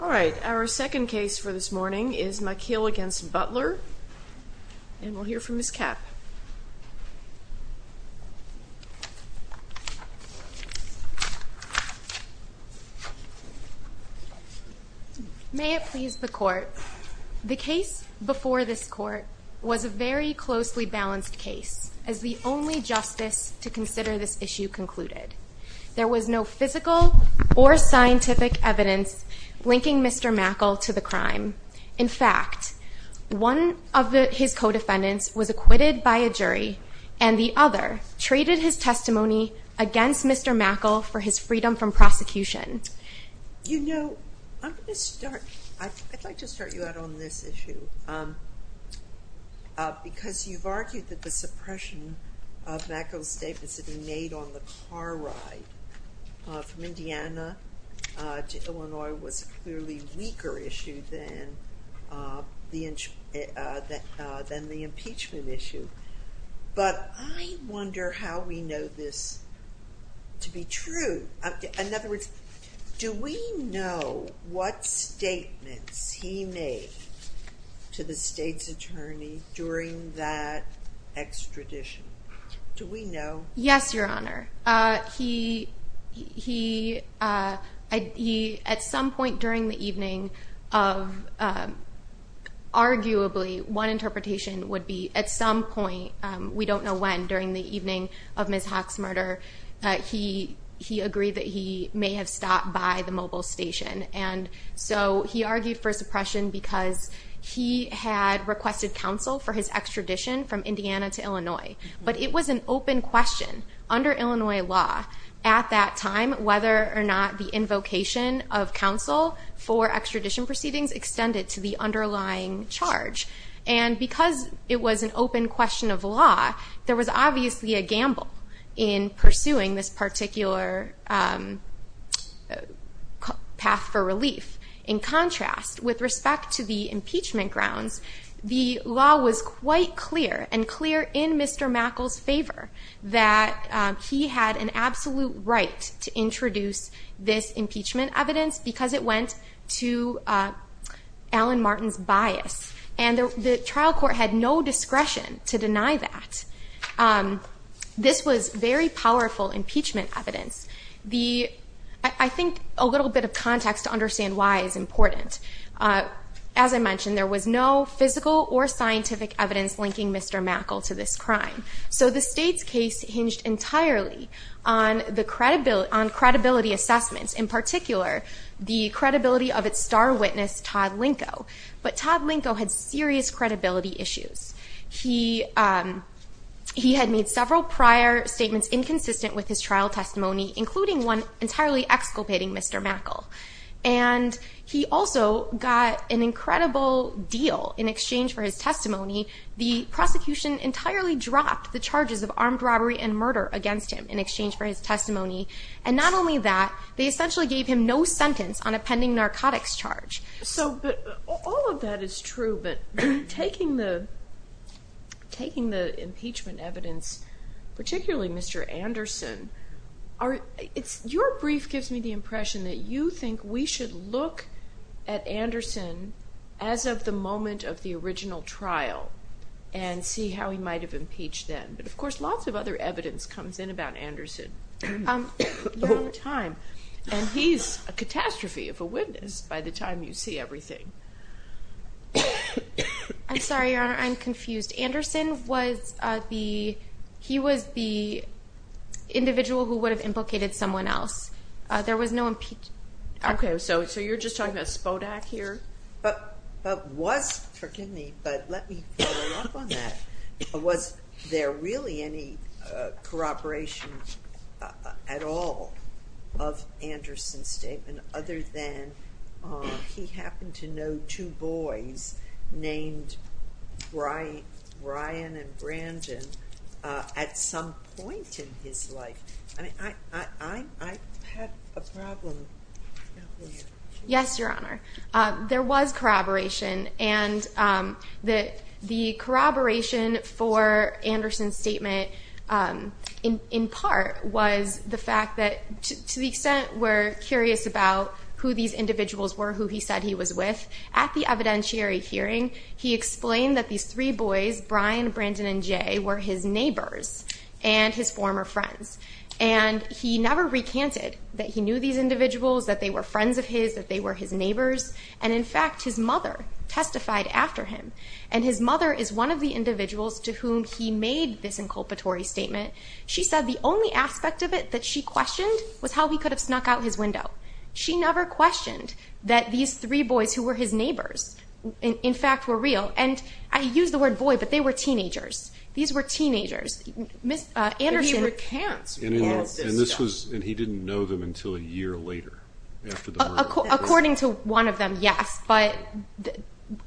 All right, our second case for this morning is Makiel v. Butler, and we'll hear from Ms. Kapp. May it please the Court, the case before this Court was a very closely balanced case, as the only justice to consider this issue concluded. There was no physical or scientific evidence linking Mr. Makiel to the crime. In fact, one of his co-defendants was acquitted by a jury, and the other traded his testimony against Mr. Makiel for his freedom from prosecution. You know, I'm going to start – I'd like to start you out on this issue, because you've argued that the suppression of Makiel's statements that he made on the car ride from Indiana to Illinois was clearly a weaker issue than the impeachment issue. But I wonder how we know this to be true. In other words, do we know what statements he made to the state's attorney during that extradition? Do we know? Yes, Your Honor. He – at some point during the evening of – arguably, one interpretation would be at some point, we don't know when, during the evening of Ms. Haack's murder, he agreed that he may have stopped by the mobile station. And so he argued for suppression because he had requested counsel for his extradition from Indiana to Illinois. But it was an open question under Illinois law at that time whether or not the invocation of counsel for extradition proceedings extended to the underlying charge. And because it was an open question of law, there was obviously a gamble in pursuing this particular path for relief. In contrast, with respect to the impeachment grounds, the law was quite clear and clear in Mr. Makiel's favor that he had an absolute right to introduce this impeachment evidence because it went to Alan Martin's bias. And the trial court had no discretion to deny that. This was very powerful impeachment evidence. The – I think a little bit of context to understand why is important. As I mentioned, there was no physical or scientific evidence linking Mr. Makiel to this crime. So the state's case hinged entirely on the – on credibility assessments, in particular, the credibility of its star witness, Todd Linko. But Todd Linko had serious credibility issues. He had made several prior statements inconsistent with his trial testimony, including one entirely exculpating Mr. Makiel. And he also got an incredible deal in exchange for his testimony. The prosecution entirely dropped the charges of armed robbery and murder against him in exchange for his testimony. And not only that, they essentially gave him no sentence on a pending narcotics charge. So – but all of that is true, but taking the – taking the impeachment evidence, particularly Mr. Anderson, are – it's – your brief gives me the impression that you think we should look at Anderson as of the moment of the original trial and see how he might have impeached then. But, of course, lots of other evidence comes in about Anderson at the time. And he's a catastrophe of a witness by the time you see everything. I'm sorry, Your Honor, I'm confused. Anderson was the – he was the individual who would have implicated someone else. There was no impeachment. Okay, so you're just talking about Spodak here? But was – forgive me, but let me follow up on that. Was there really any corroboration at all of Anderson's statement other than he happened to know two boys named Brian and Brandon at some point in his life? I mean, I have a problem. Yes, Your Honor. There was corroboration, and the corroboration for Anderson's statement in part was the fact that to the extent we're curious about who these individuals were who he said he was with, at the evidentiary hearing, he explained that these three boys, Brian, Brandon, and Jay, were his neighbors and his former friends. And he never recanted that he knew these individuals, that they were friends of his, that they were his neighbors. And, in fact, his mother testified after him. And his mother is one of the individuals to whom he made this inculpatory statement. She said the only aspect of it that she questioned was how he could have snuck out his window. She never questioned that these three boys who were his neighbors, in fact, were real. And I use the word boy, but they were teenagers. These were teenagers. But he recants. And he didn't know them until a year later, after the murder. According to one of them, yes. But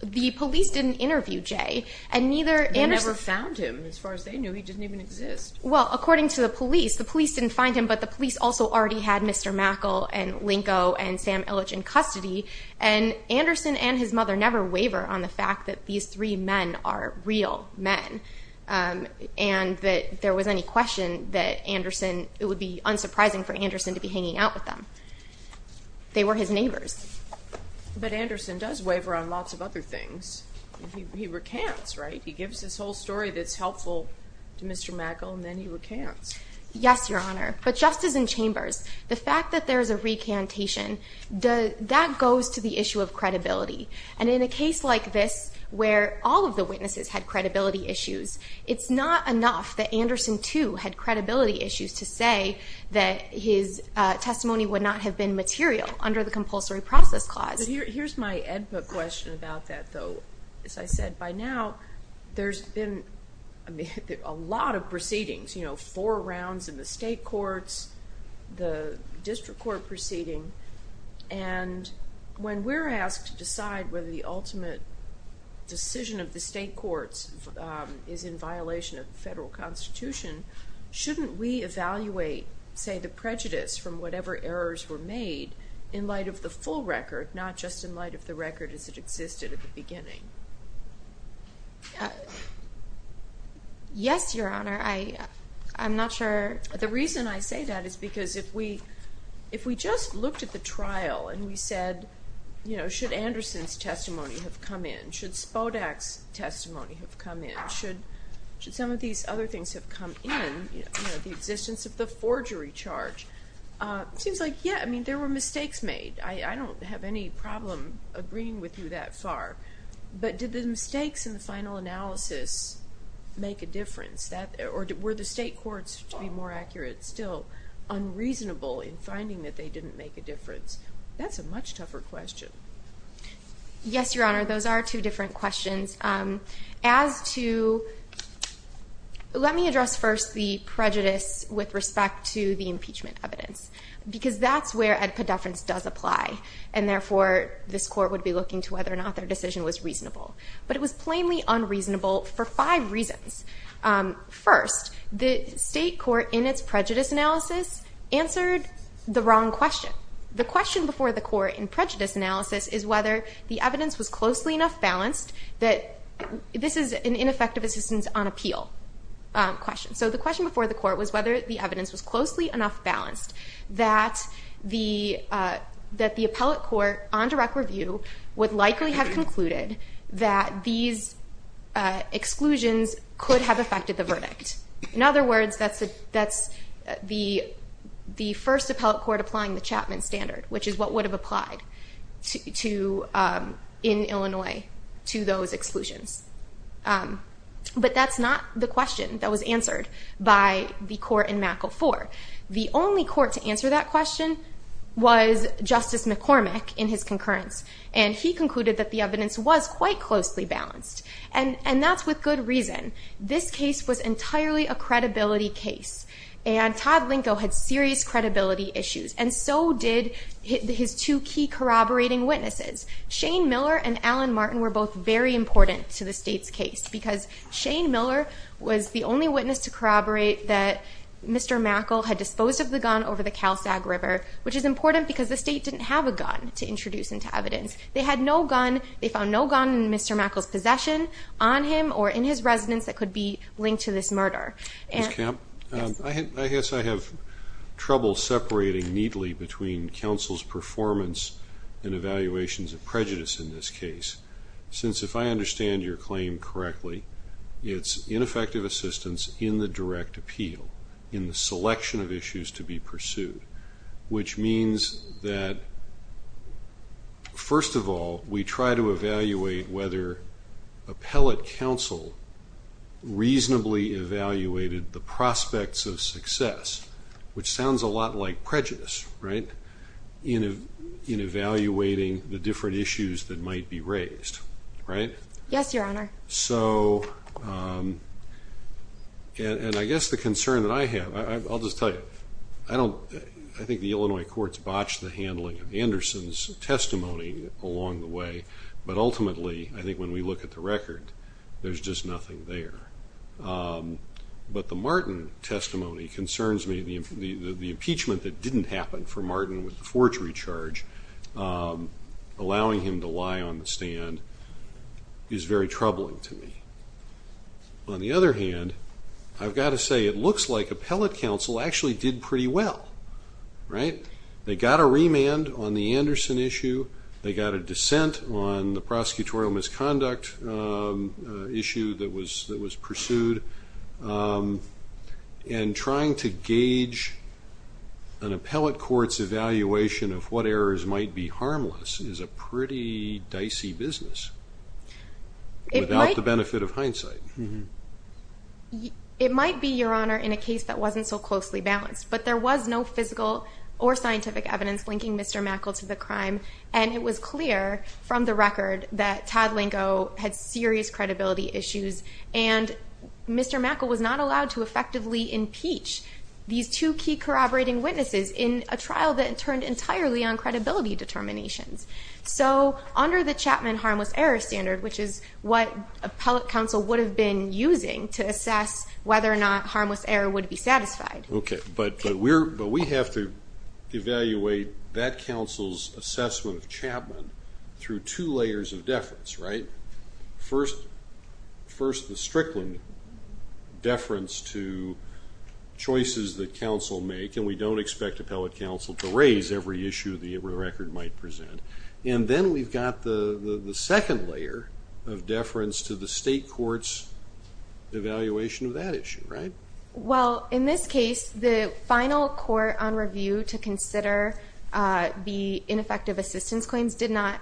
the police didn't interview Jay. They never found him, as far as they knew. He didn't even exist. Well, according to the police, the police didn't find him, but the police also already had Mr. Mackle and Linko and Sam Illich in custody. And Anderson and his mother never waver on the fact that these three men are real men and that there was any question that it would be unsurprising for Anderson to be hanging out with them. They were his neighbors. But Anderson does waver on lots of other things. He recants, right? He gives this whole story that's helpful to Mr. Mackle, and then he recants. Yes, Your Honor. But, Justice in Chambers, the fact that there is a recantation, that goes to the issue of credibility. And in a case like this, where all of the witnesses had credibility issues, it's not enough that Anderson, too, had credibility issues to say that his testimony would not have been material under the compulsory process clause. But here's my EDPA question about that, though. As I said, by now, there's been a lot of proceedings, you know, four rounds in the state courts, the district court proceeding. And when we're asked to decide whether the ultimate decision of the state courts is in violation of the federal constitution, shouldn't we evaluate, say, the prejudice from whatever errors were made in light of the full record, not just in light of the record as it existed at the beginning? Yes, Your Honor. I'm not sure. The reason I say that is because if we just looked at the trial and we said, you know, should Anderson's testimony have come in? Should Spodak's testimony have come in? Should some of these other things have come in, you know, the existence of the forgery charge? It seems like, yeah, I mean, there were mistakes made. I don't have any problem agreeing with you that far. But did the mistakes in the final analysis make a difference? Or were the state courts, to be more accurate, still unreasonable in finding that they didn't make a difference? That's a much tougher question. Yes, Your Honor, those are two different questions. As to, let me address first the prejudice with respect to the impeachment evidence, because that's where a deference does apply. And therefore, this court would be looking to whether or not their decision was reasonable. But it was plainly unreasonable for five reasons. First, the state court in its prejudice analysis answered the wrong question. The question before the court in prejudice analysis is whether the evidence was closely enough balanced that this is an ineffective assistance on appeal question. So the question before the court was whether the evidence was closely enough balanced that the appellate court on direct review would likely have concluded that these exclusions could have affected the verdict. In other words, that's the first appellate court applying the Chapman Standard, which is what would have applied in Illinois to those exclusions. But that's not the question that was answered by the court in MACL-4. The only court to answer that question was Justice McCormick in his concurrence. And he concluded that the evidence was quite closely balanced. And that's with good reason. This case was entirely a credibility case. And Todd Linko had serious credibility issues. And so did his two key corroborating witnesses. Shane Miller and Alan Martin were both very important to the state's case. Because Shane Miller was the only witness to corroborate that Mr. Mackel had disposed of the gun over the Cal Sag River, which is important because the state didn't have a gun to introduce into evidence. They had no gun. They found no gun in Mr. Mackel's possession, on him, or in his residence that could be linked to this murder. Ms. Kemp, I guess I have trouble separating neatly between counsel's performance and evaluations of prejudice in this case. Since if I understand your claim correctly, it's ineffective assistance in the direct appeal, in the selection of issues to be pursued. Which means that, first of all, we try to evaluate whether appellate counsel reasonably evaluated the prospects of success, which sounds a lot like prejudice, right, in evaluating the different issues that might be raised, right? Yes, Your Honor. So, and I guess the concern that I have, I'll just tell you, I think the Illinois courts botched the handling of Anderson's testimony along the way, but ultimately, I think when we look at the record, there's just nothing there. But the Martin testimony concerns me. The impeachment that didn't happen for Martin with the forgery charge, allowing him to lie on the stand, is very troubling to me. On the other hand, I've got to say it looks like appellate counsel actually did pretty well, right? They got a remand on the Anderson issue. They got a dissent on the prosecutorial misconduct issue that was pursued. And trying to gauge an appellate court's evaluation of what errors might be harmless is a pretty dicey business, without the benefit of hindsight. It might be, Your Honor, in a case that wasn't so closely balanced, but there was no physical or scientific evidence linking Mr. Mackel to the crime, and it was clear from the record that Todd Lingo had serious credibility issues and Mr. Mackel was not allowed to effectively impeach these two key corroborating witnesses in a trial that turned entirely on credibility determinations. So under the Chapman harmless error standard, which is what appellate counsel would have been using to assess whether or not harmless error would be satisfied. Okay, but we have to evaluate that counsel's assessment of Chapman through two layers of deference, right? First, the Strickland deference to choices that counsel make, and we don't expect appellate counsel to raise every issue the record might present. And then we've got the second layer of deference to the state court's evaluation of that issue, right? Well, in this case, the final court on review to consider the ineffective assistance claims did not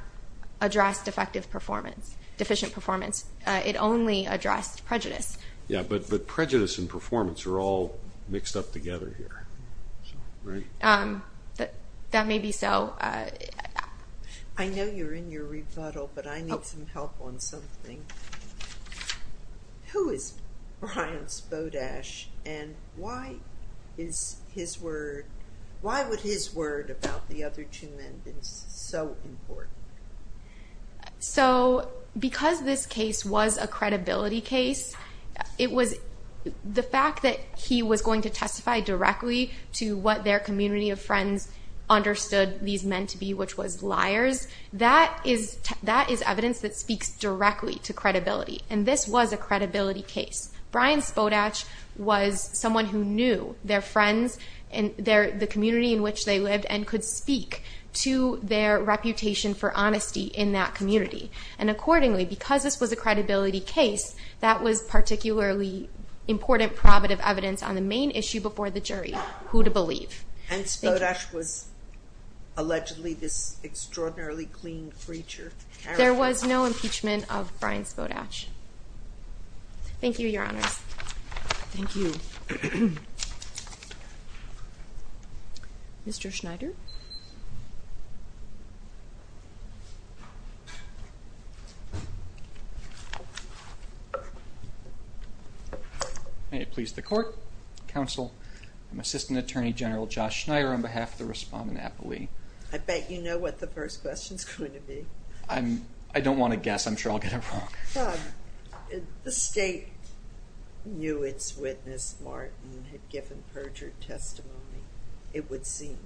address defective performance, deficient performance. It only addressed prejudice. Yeah, but prejudice and performance are all mixed up together here, right? That may be so. I know you're in your rebuttal, but I need some help on something. Who is Brian Spodash, and why would his word about the other two men be so important? So because this case was a credibility case, the fact that he was going to testify directly to what their community of friends understood these men to be, which was liars, that is evidence that speaks directly to credibility. And this was a credibility case. Brian Spodash was someone who knew their friends and the community in which they lived and could speak to their reputation for honesty in that community. And accordingly, because this was a credibility case, that was particularly important probative evidence on the main issue before the jury, who to believe. And Spodash was allegedly this extraordinarily clean creature. There was no impeachment of Brian Spodash. Thank you, Your Honors. Thank you. Mr. Schneider. May it please the Court, Counsel, and Assistant Attorney General Josh Schneider on behalf of the Respondent Appellee. I bet you know what the first question is going to be. I don't want to guess. I'm sure I'll get it wrong. The State knew its witness, Martin, had given perjured testimony, it would seem,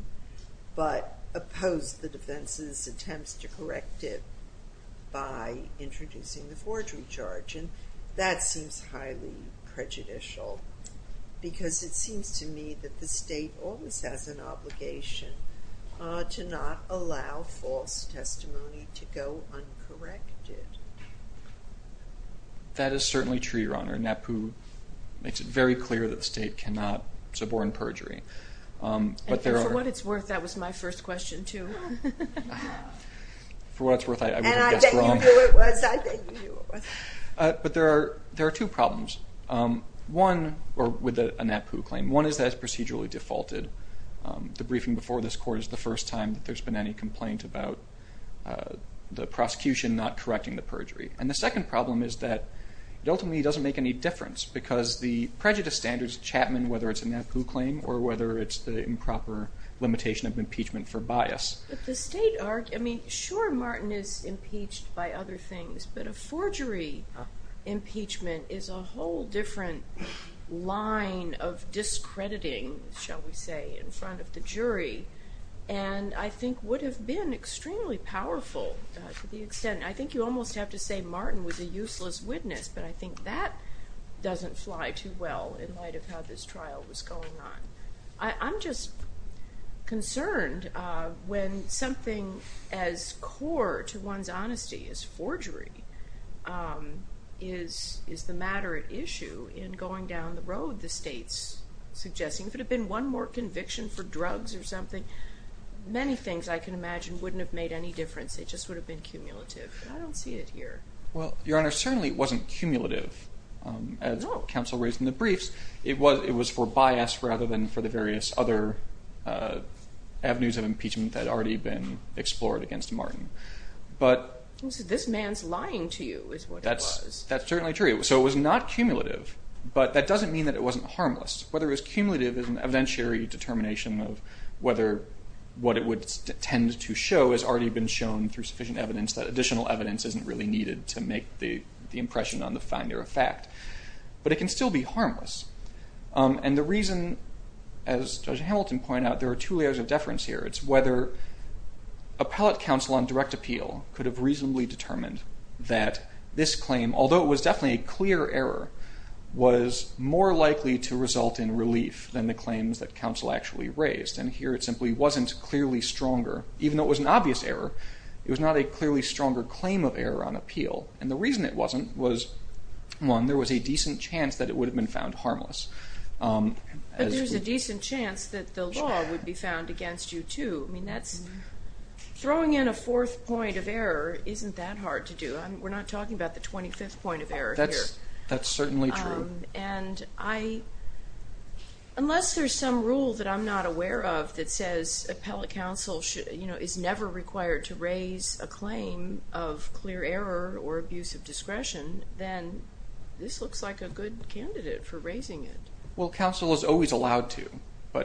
but opposed the defense's attempts to correct it by introducing the forgery charge. And that seems highly prejudicial because it seems to me that the State always has an obligation to not allow false testimony to go uncorrected. That is certainly true, Your Honor. NAPU makes it very clear that the State cannot suborn perjury. And for what it's worth, that was my first question, too. For what it's worth, I would have guessed wrong. And I bet you knew what it was. I bet you knew what it was. But there are two problems with a NAPU claim. One is that it's procedurally defaulted. The briefing before this Court is the first time that there's been any complaint about the prosecution not correcting the perjury. And the second problem is that it ultimately doesn't make any difference because the prejudice standards of Chapman, whether it's a NAPU claim or whether it's the improper limitation of impeachment for bias. But the State, I mean, sure Martin is impeached by other things, but a forgery impeachment is a whole different line of discrediting, shall we say, in front of the jury. And I think would have been extremely powerful to the extent, I think you almost have to say Martin was a useless witness, but I think that doesn't fly too well in light of how this trial was going on. I'm just concerned when something as core to one's honesty as forgery is the matter at issue in going down the road the State's suggesting. If it had been one more conviction for drugs or something, many things I can imagine wouldn't have made any difference. It just would have been cumulative. I don't see it here. Well, Your Honor, certainly it wasn't cumulative as counsel raised in the briefs. It was for bias rather than for the various other avenues of impeachment that had already been explored against Martin. This man's lying to you is what it was. That's certainly true. So it was not cumulative, but that doesn't mean that it wasn't harmless. Whether it was cumulative is an evidentiary determination of whether what it would tend to show has already been shown through sufficient evidence that additional evidence isn't really needed to make the impression on the finder of fact. But it can still be harmless. And the reason, as Judge Hamilton pointed out, there are two layers of deference here. It's whether appellate counsel on direct appeal could have reasonably determined that this claim, although it was definitely a clear error, was more likely to result in relief than the claims that counsel actually raised. And here it simply wasn't clearly stronger. Even though it was an obvious error, it was not a clearly stronger claim of error on appeal. And the reason it wasn't was, one, there was a decent chance that it would have been found harmless. But there's a decent chance that the law would be found against you too. I mean, throwing in a fourth point of error isn't that hard to do. We're not talking about the 25th point of error here. That's certainly true. And unless there's some rule that I'm not aware of that says appellate counsel is never required to raise a claim of clear error or abuse of discretion, then this looks like a good candidate for raising it. Well, counsel is always allowed to. No,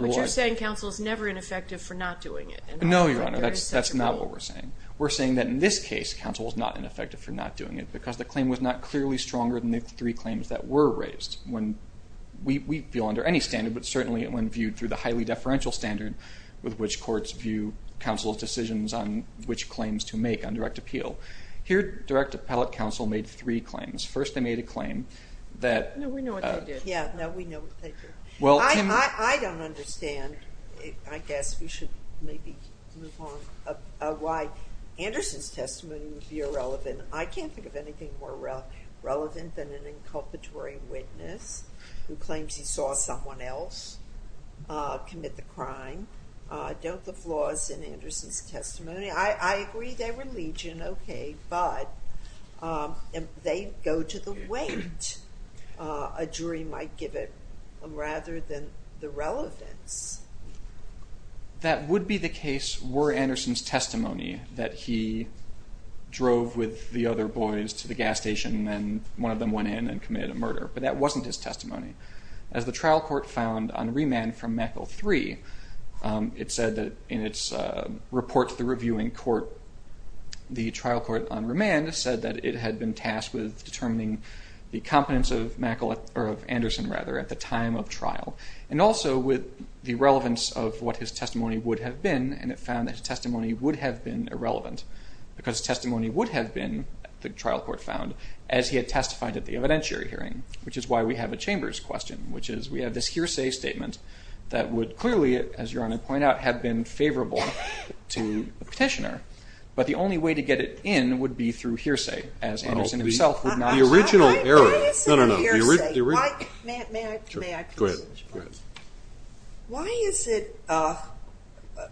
but you're saying counsel is never ineffective for not doing it. No, Your Honor, that's not what we're saying. We're saying that in this case, counsel is not ineffective for not doing it because the claim was not clearly stronger than the three claims that were raised. We feel under any standard, but certainly when viewed through the highly deferential standard with which courts view counsel's decisions on which claims to make on direct appeal, here direct appellate counsel made three claims. First, they made a claim that... No, we know what they did. Yeah, no, we know what they did. I don't understand, I guess we should maybe move on, why Anderson's testimony would be irrelevant. I can't think of anything more relevant than an inculpatory witness who claims he saw someone else commit the crime. Don't the flaws in Anderson's testimony, I agree they were legion, okay, but they go to the weight a jury might give it rather than the relevance. That would be the case were Anderson's testimony that he drove with the other boys to the gas station and one of them went in and committed a murder. But that wasn't his testimony. As the trial court found on remand from MACL 3, it said that in its report to the reviewing court, the trial court on remand said that it had been tasked with determining the competence of Anderson at the time of trial and also with the relevance of what his testimony would have been and it found that his testimony would have been irrelevant because testimony would have been, the trial court found, as he had testified at the evidentiary hearing, which is why we have a chamber's question, which is we have this hearsay statement that would clearly, as Your Honor pointed out, have been favorable to the petitioner, but the only way to get it in would be through hearsay, as Anderson himself would not have said.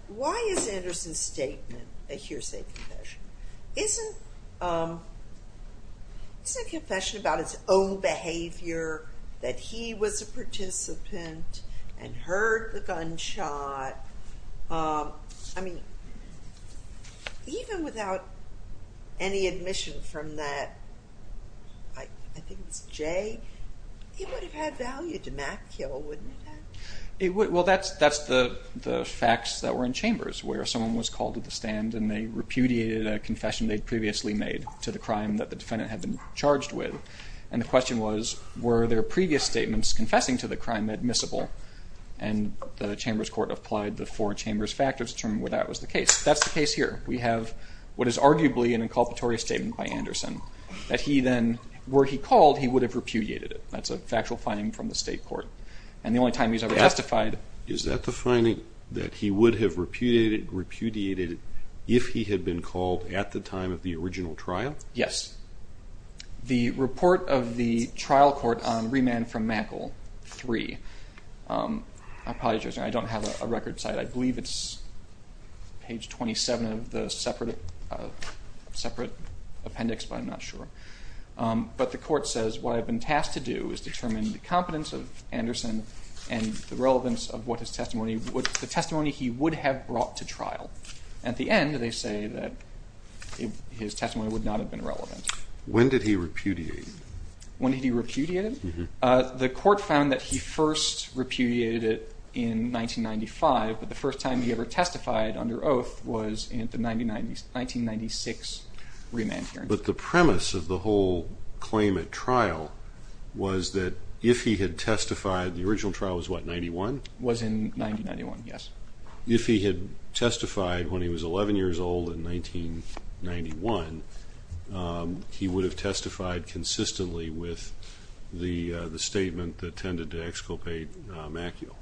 Why is Anderson's statement a hearsay confession? Isn't it a confession about his own behavior, that he was a participant and heard the gunshot? I mean, even without any admission from that, I think it's Jay, he would have had value to MACL, wouldn't he have? Well, that's the facts that were in Chambers, where someone was called to the stand and they repudiated a confession they'd previously made to the crime that the defendant had been charged with, and the question was, were their previous statements confessing to the crime admissible? And the Chambers Court applied the four Chambers factors to determine whether that was the case. That's the case here. We have what is arguably an inculpatory statement by Anderson, that he then, were he called, he would have repudiated it. That's a factual finding from the state court. And the only time he's ever testified... Is that the finding, that he would have repudiated it if he had been called at the time of the original trial? Yes. The report of the trial court on remand from MACL 3. I apologize, I don't have a record site. I believe it's page 27 of the separate appendix, but I'm not sure. But the court says, what I've been tasked to do is determine the competence of Anderson and the relevance of what his testimony... the testimony he would have brought to trial. At the end, they say that his testimony would not have been relevant. When did he repudiate it? When did he repudiate it? The court found that he first repudiated it in 1995, but the first time he ever testified under oath was in the 1996 remand hearing. But the premise of the whole claim at trial was that if he had testified... The original trial was, what, in 1991? Was in 1991, yes. If he had testified when he was 11 years old in 1991, he would have testified consistently with the statement that tended to exculpate Maciel.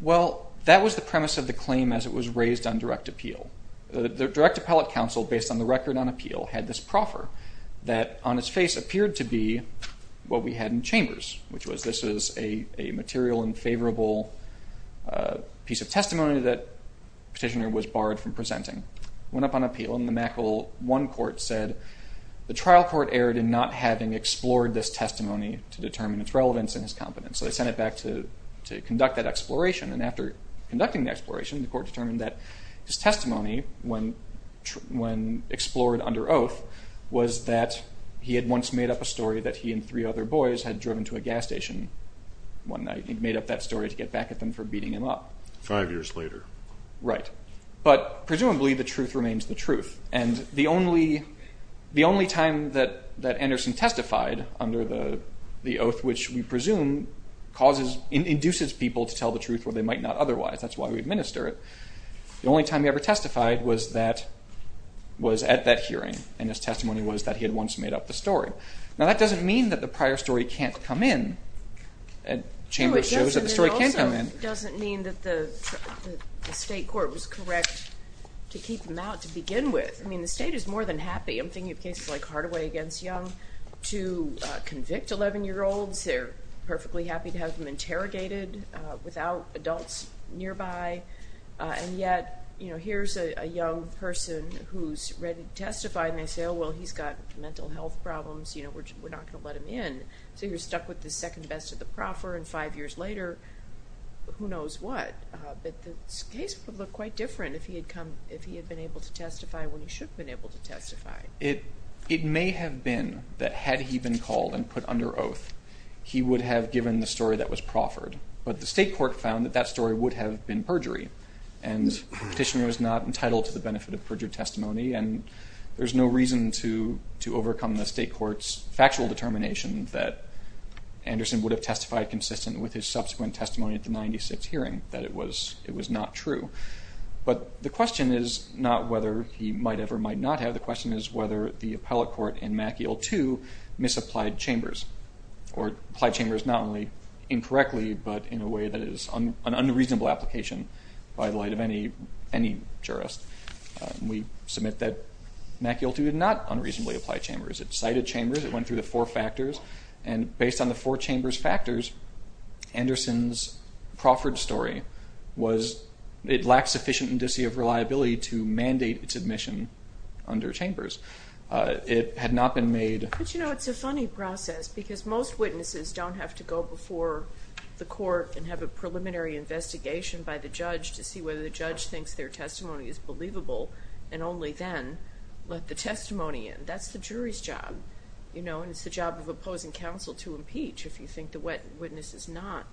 Well, that was the premise of the claim as it was raised on direct appeal. The direct appellate counsel, based on the record on appeal, had this proffer that on its face appeared to be what we had in chambers, which was this is a material and favorable piece of testimony that the petitioner was barred from presenting. It went up on appeal, and the Maciel 1 court said, the trial court erred in not having explored this testimony to determine its relevance in his competence. So they sent it back to conduct that exploration, and after conducting the exploration, the court determined that his testimony, when explored under oath, was that he had once made up a story that he and three other boys had driven to a gas station one night and made up that story to get back at them for beating him up. Five years later. Right. But presumably the truth remains the truth, and the only time that Anderson testified under the oath, which we presume induces people to tell the truth where they might not otherwise. That's why we administer it. The only time he ever testified was at that hearing, and his testimony was that he had once made up the story. Now that doesn't mean that the prior story can't come in. Chamber shows that the story can come in. It also doesn't mean that the state court was correct to keep him out to begin with. I mean, the state is more than happy, I'm thinking of cases like Hardaway v. Young, to convict 11-year-olds. They're perfectly happy to have them interrogated without adults nearby, and yet here's a young person who's ready to testify, and they say, oh, well, he's got mental health problems, we're not going to let him in. So you're stuck with the second best of the proffer, and five years later, who knows what. But the case would look quite different if he had been able to testify when he should have been able to testify. It may have been that had he been called and put under oath, he would have given the story that was proffered. But the state court found that that story would have been perjury, and the petitioner was not entitled to the benefit of perjured testimony, and there's no reason to overcome the state court's factual determination that Anderson would have testified consistent with his subsequent testimony at the 96th hearing, that it was not true. But the question is not whether he might have or might not have. The question is whether the appellate court in MAC-EL-2 misapplied chambers, or applied chambers not only incorrectly, but in a way that is an unreasonable application by the light of any jurist. We submit that MAC-EL-2 did not unreasonably apply chambers. It cited chambers. It went through the four factors, and based on the four chambers factors, Anderson's proffered story was it lacked sufficient indicia of reliability to mandate its admission under chambers. It had not been made. But, you know, it's a funny process, because most witnesses don't have to go before the court and have a preliminary investigation by the judge to see whether the judge thinks their testimony is believable, and only then let the testimony in. That's the jury's job, you know, and it's the job of opposing counsel to impeach if you think the witness is not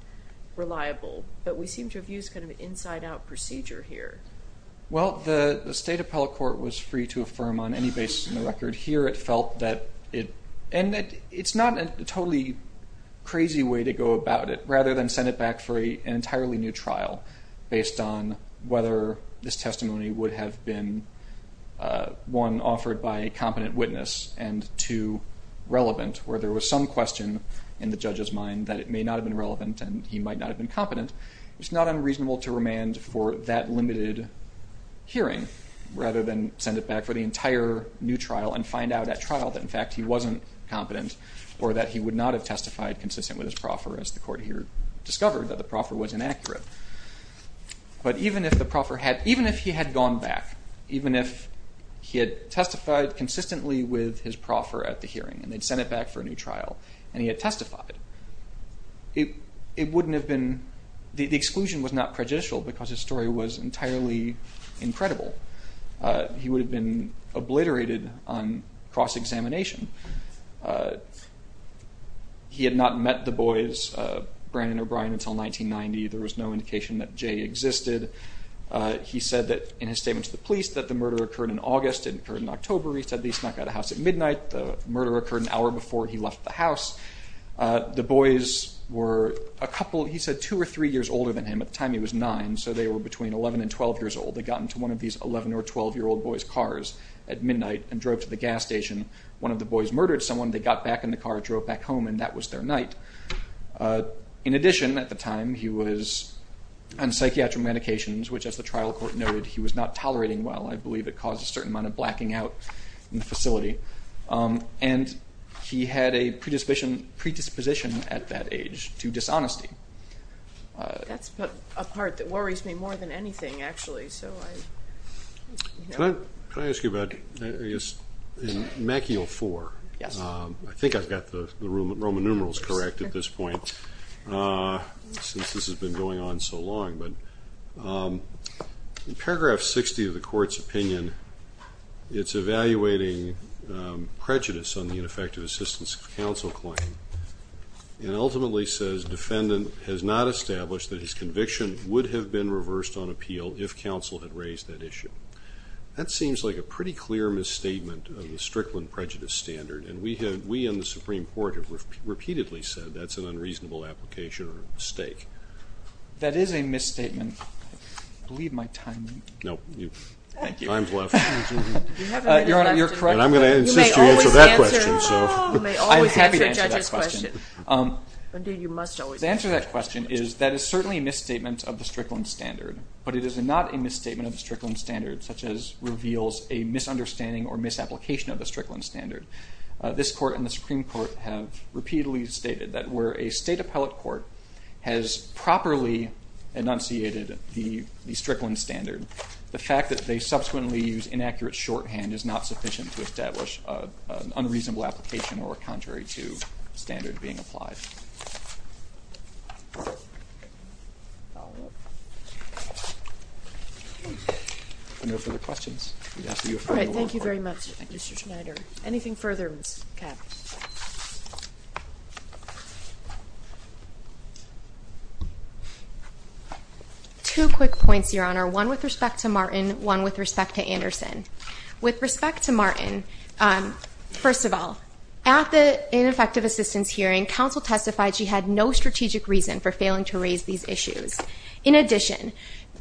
reliable. But we seem to have used kind of an inside-out procedure here. Well, the state appellate court was free to affirm on any basis in the record. Here it felt that it ended. It's not a totally crazy way to go about it, but rather than send it back for an entirely new trial based on whether this testimony would have been, one, offered by a competent witness and, two, relevant, where there was some question in the judge's mind that it may not have been relevant and he might not have been competent, it's not unreasonable to remand for that limited hearing rather than send it back for the entire new trial and find out at trial that, in fact, he wasn't competent or that he would not have testified consistent with his proffer as the court here discovered that the proffer was inaccurate. But even if he had gone back, even if he had testified consistently with his proffer at the hearing and they'd sent it back for a new trial and he had testified, it wouldn't have been... The exclusion was not prejudicial because his story was entirely incredible. He would have been obliterated on cross-examination. He had not met the boys, Brandon and O'Brien, until 1990. There was no indication that Jay existed. He said that, in his statement to the police, that the murder occurred in August, it occurred in October. He said that he snuck out of the house at midnight. The murder occurred an hour before he left the house. The boys were a couple... He said two or three years older than him. At the time, he was nine, so they were between 11 and 12 years old. They got into one of these 11- or 12-year-old boys' cars at midnight and drove to the gas station. One of the boys murdered someone. They got back in the car, drove back home, and that was their night. In addition, at the time, he was on psychiatric medications, which, as the trial court noted, he was not tolerating well. I believe it caused a certain amount of blacking out in the facility. And he had a predisposition at that age to dishonesty. That's a part that worries me more than anything, actually. Can I ask you about, I guess, in Machiael 4? Yes. I think I've got the Roman numerals correct at this point, since this has been going on so long. In paragraph 60 of the court's opinion, it's evaluating prejudice on the ineffective assistance of counsel claim. It ultimately says, defendant has not established that his conviction would have been reversed on appeal if counsel had raised that issue. That seems like a pretty clear misstatement of the Strickland prejudice standard, and we in the Supreme Court have repeatedly said that's an unreasonable application or a mistake. That is a misstatement. I believe my time is up. No. Thank you. Time's left. Your Honor, you're correct. But I'm going to insist you answer that question. You may always answer a judge's question. I am happy to answer that question. The answer to that question is that it's certainly a misstatement of the Strickland standard, but it is not a misstatement of the Strickland standard such as reveals a misunderstanding or misapplication of the Strickland standard. This court and the Supreme Court have repeatedly stated that where a state appellate court has properly enunciated the Strickland standard, the fact that they subsequently use inaccurate shorthand is not sufficient to establish an unreasonable application or contrary to standard being applied. Any further questions? All right. Thank you very much, Mr. Schneider. Anything further, Ms. Kapp? Two quick points, Your Honor, one with respect to Martin, one with respect to Anderson. With respect to Martin, first of all, at the ineffective assistance hearing, counsel testified she had no strategic reason for failing to raise these issues. In addition,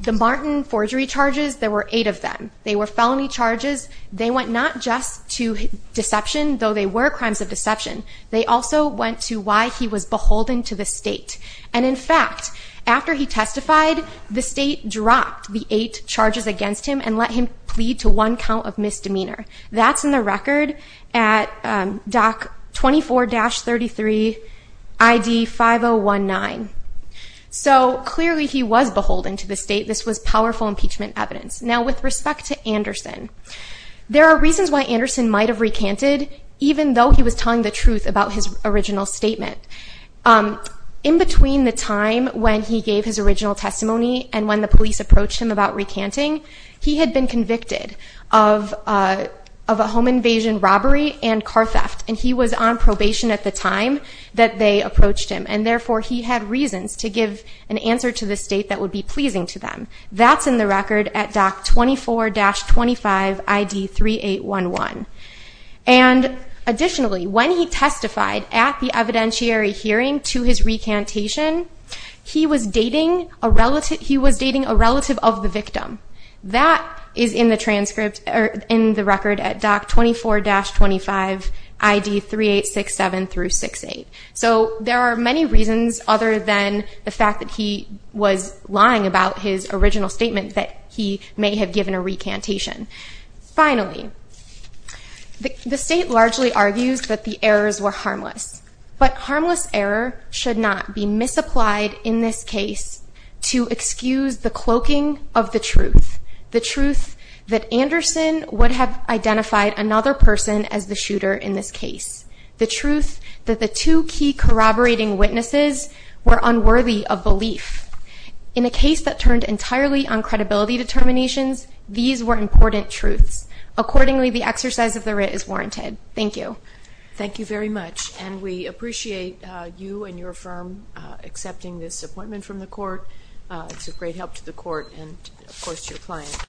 the Martin forgery charges, there were eight of them. They were felony charges. They went not just to deception, though they were crimes of deception, they also went to why he was beholden to the state. And in fact, after he testified, the state dropped the eight charges against him and let him plead to one count of misdemeanor. That's in the record at DOC 24-33 ID 5019. So clearly he was beholden to the state. This was powerful impeachment evidence. Now with respect to Anderson, there are reasons why Anderson might have recanted even though he was telling the truth about his original statement. In between the time when he gave his original testimony and when the police approached him about recanting, he had been convicted of a home invasion robbery and car theft. And he was on probation at the time that they approached him. And therefore he had reasons to give an answer to the state that would be pleasing to them. That's in the record at DOC 24-25 ID 3811. And additionally, when he testified at the evidentiary hearing to his recantation, he was dating a relative of the victim. That is in the transcript or in the record at DOC 24-25 ID 3867-68. So there are many reasons other than the fact that he was lying about his original statement that he may have given a recantation. Finally, the state largely argues that the errors were harmless, but harmless error should not be misapplied in this case to excuse the cloaking of the truth. The truth that Anderson would have identified another person as the shooter in this case. The truth that the two key corroborating witnesses were unworthy of belief in a case that turned entirely on credibility determinations. These were important truths. Accordingly, the exercise of the writ is warranted. Thank you. Thank you very much. And we appreciate you and your firm accepting this appointment from the court. It's a great help to the court and of course to your client.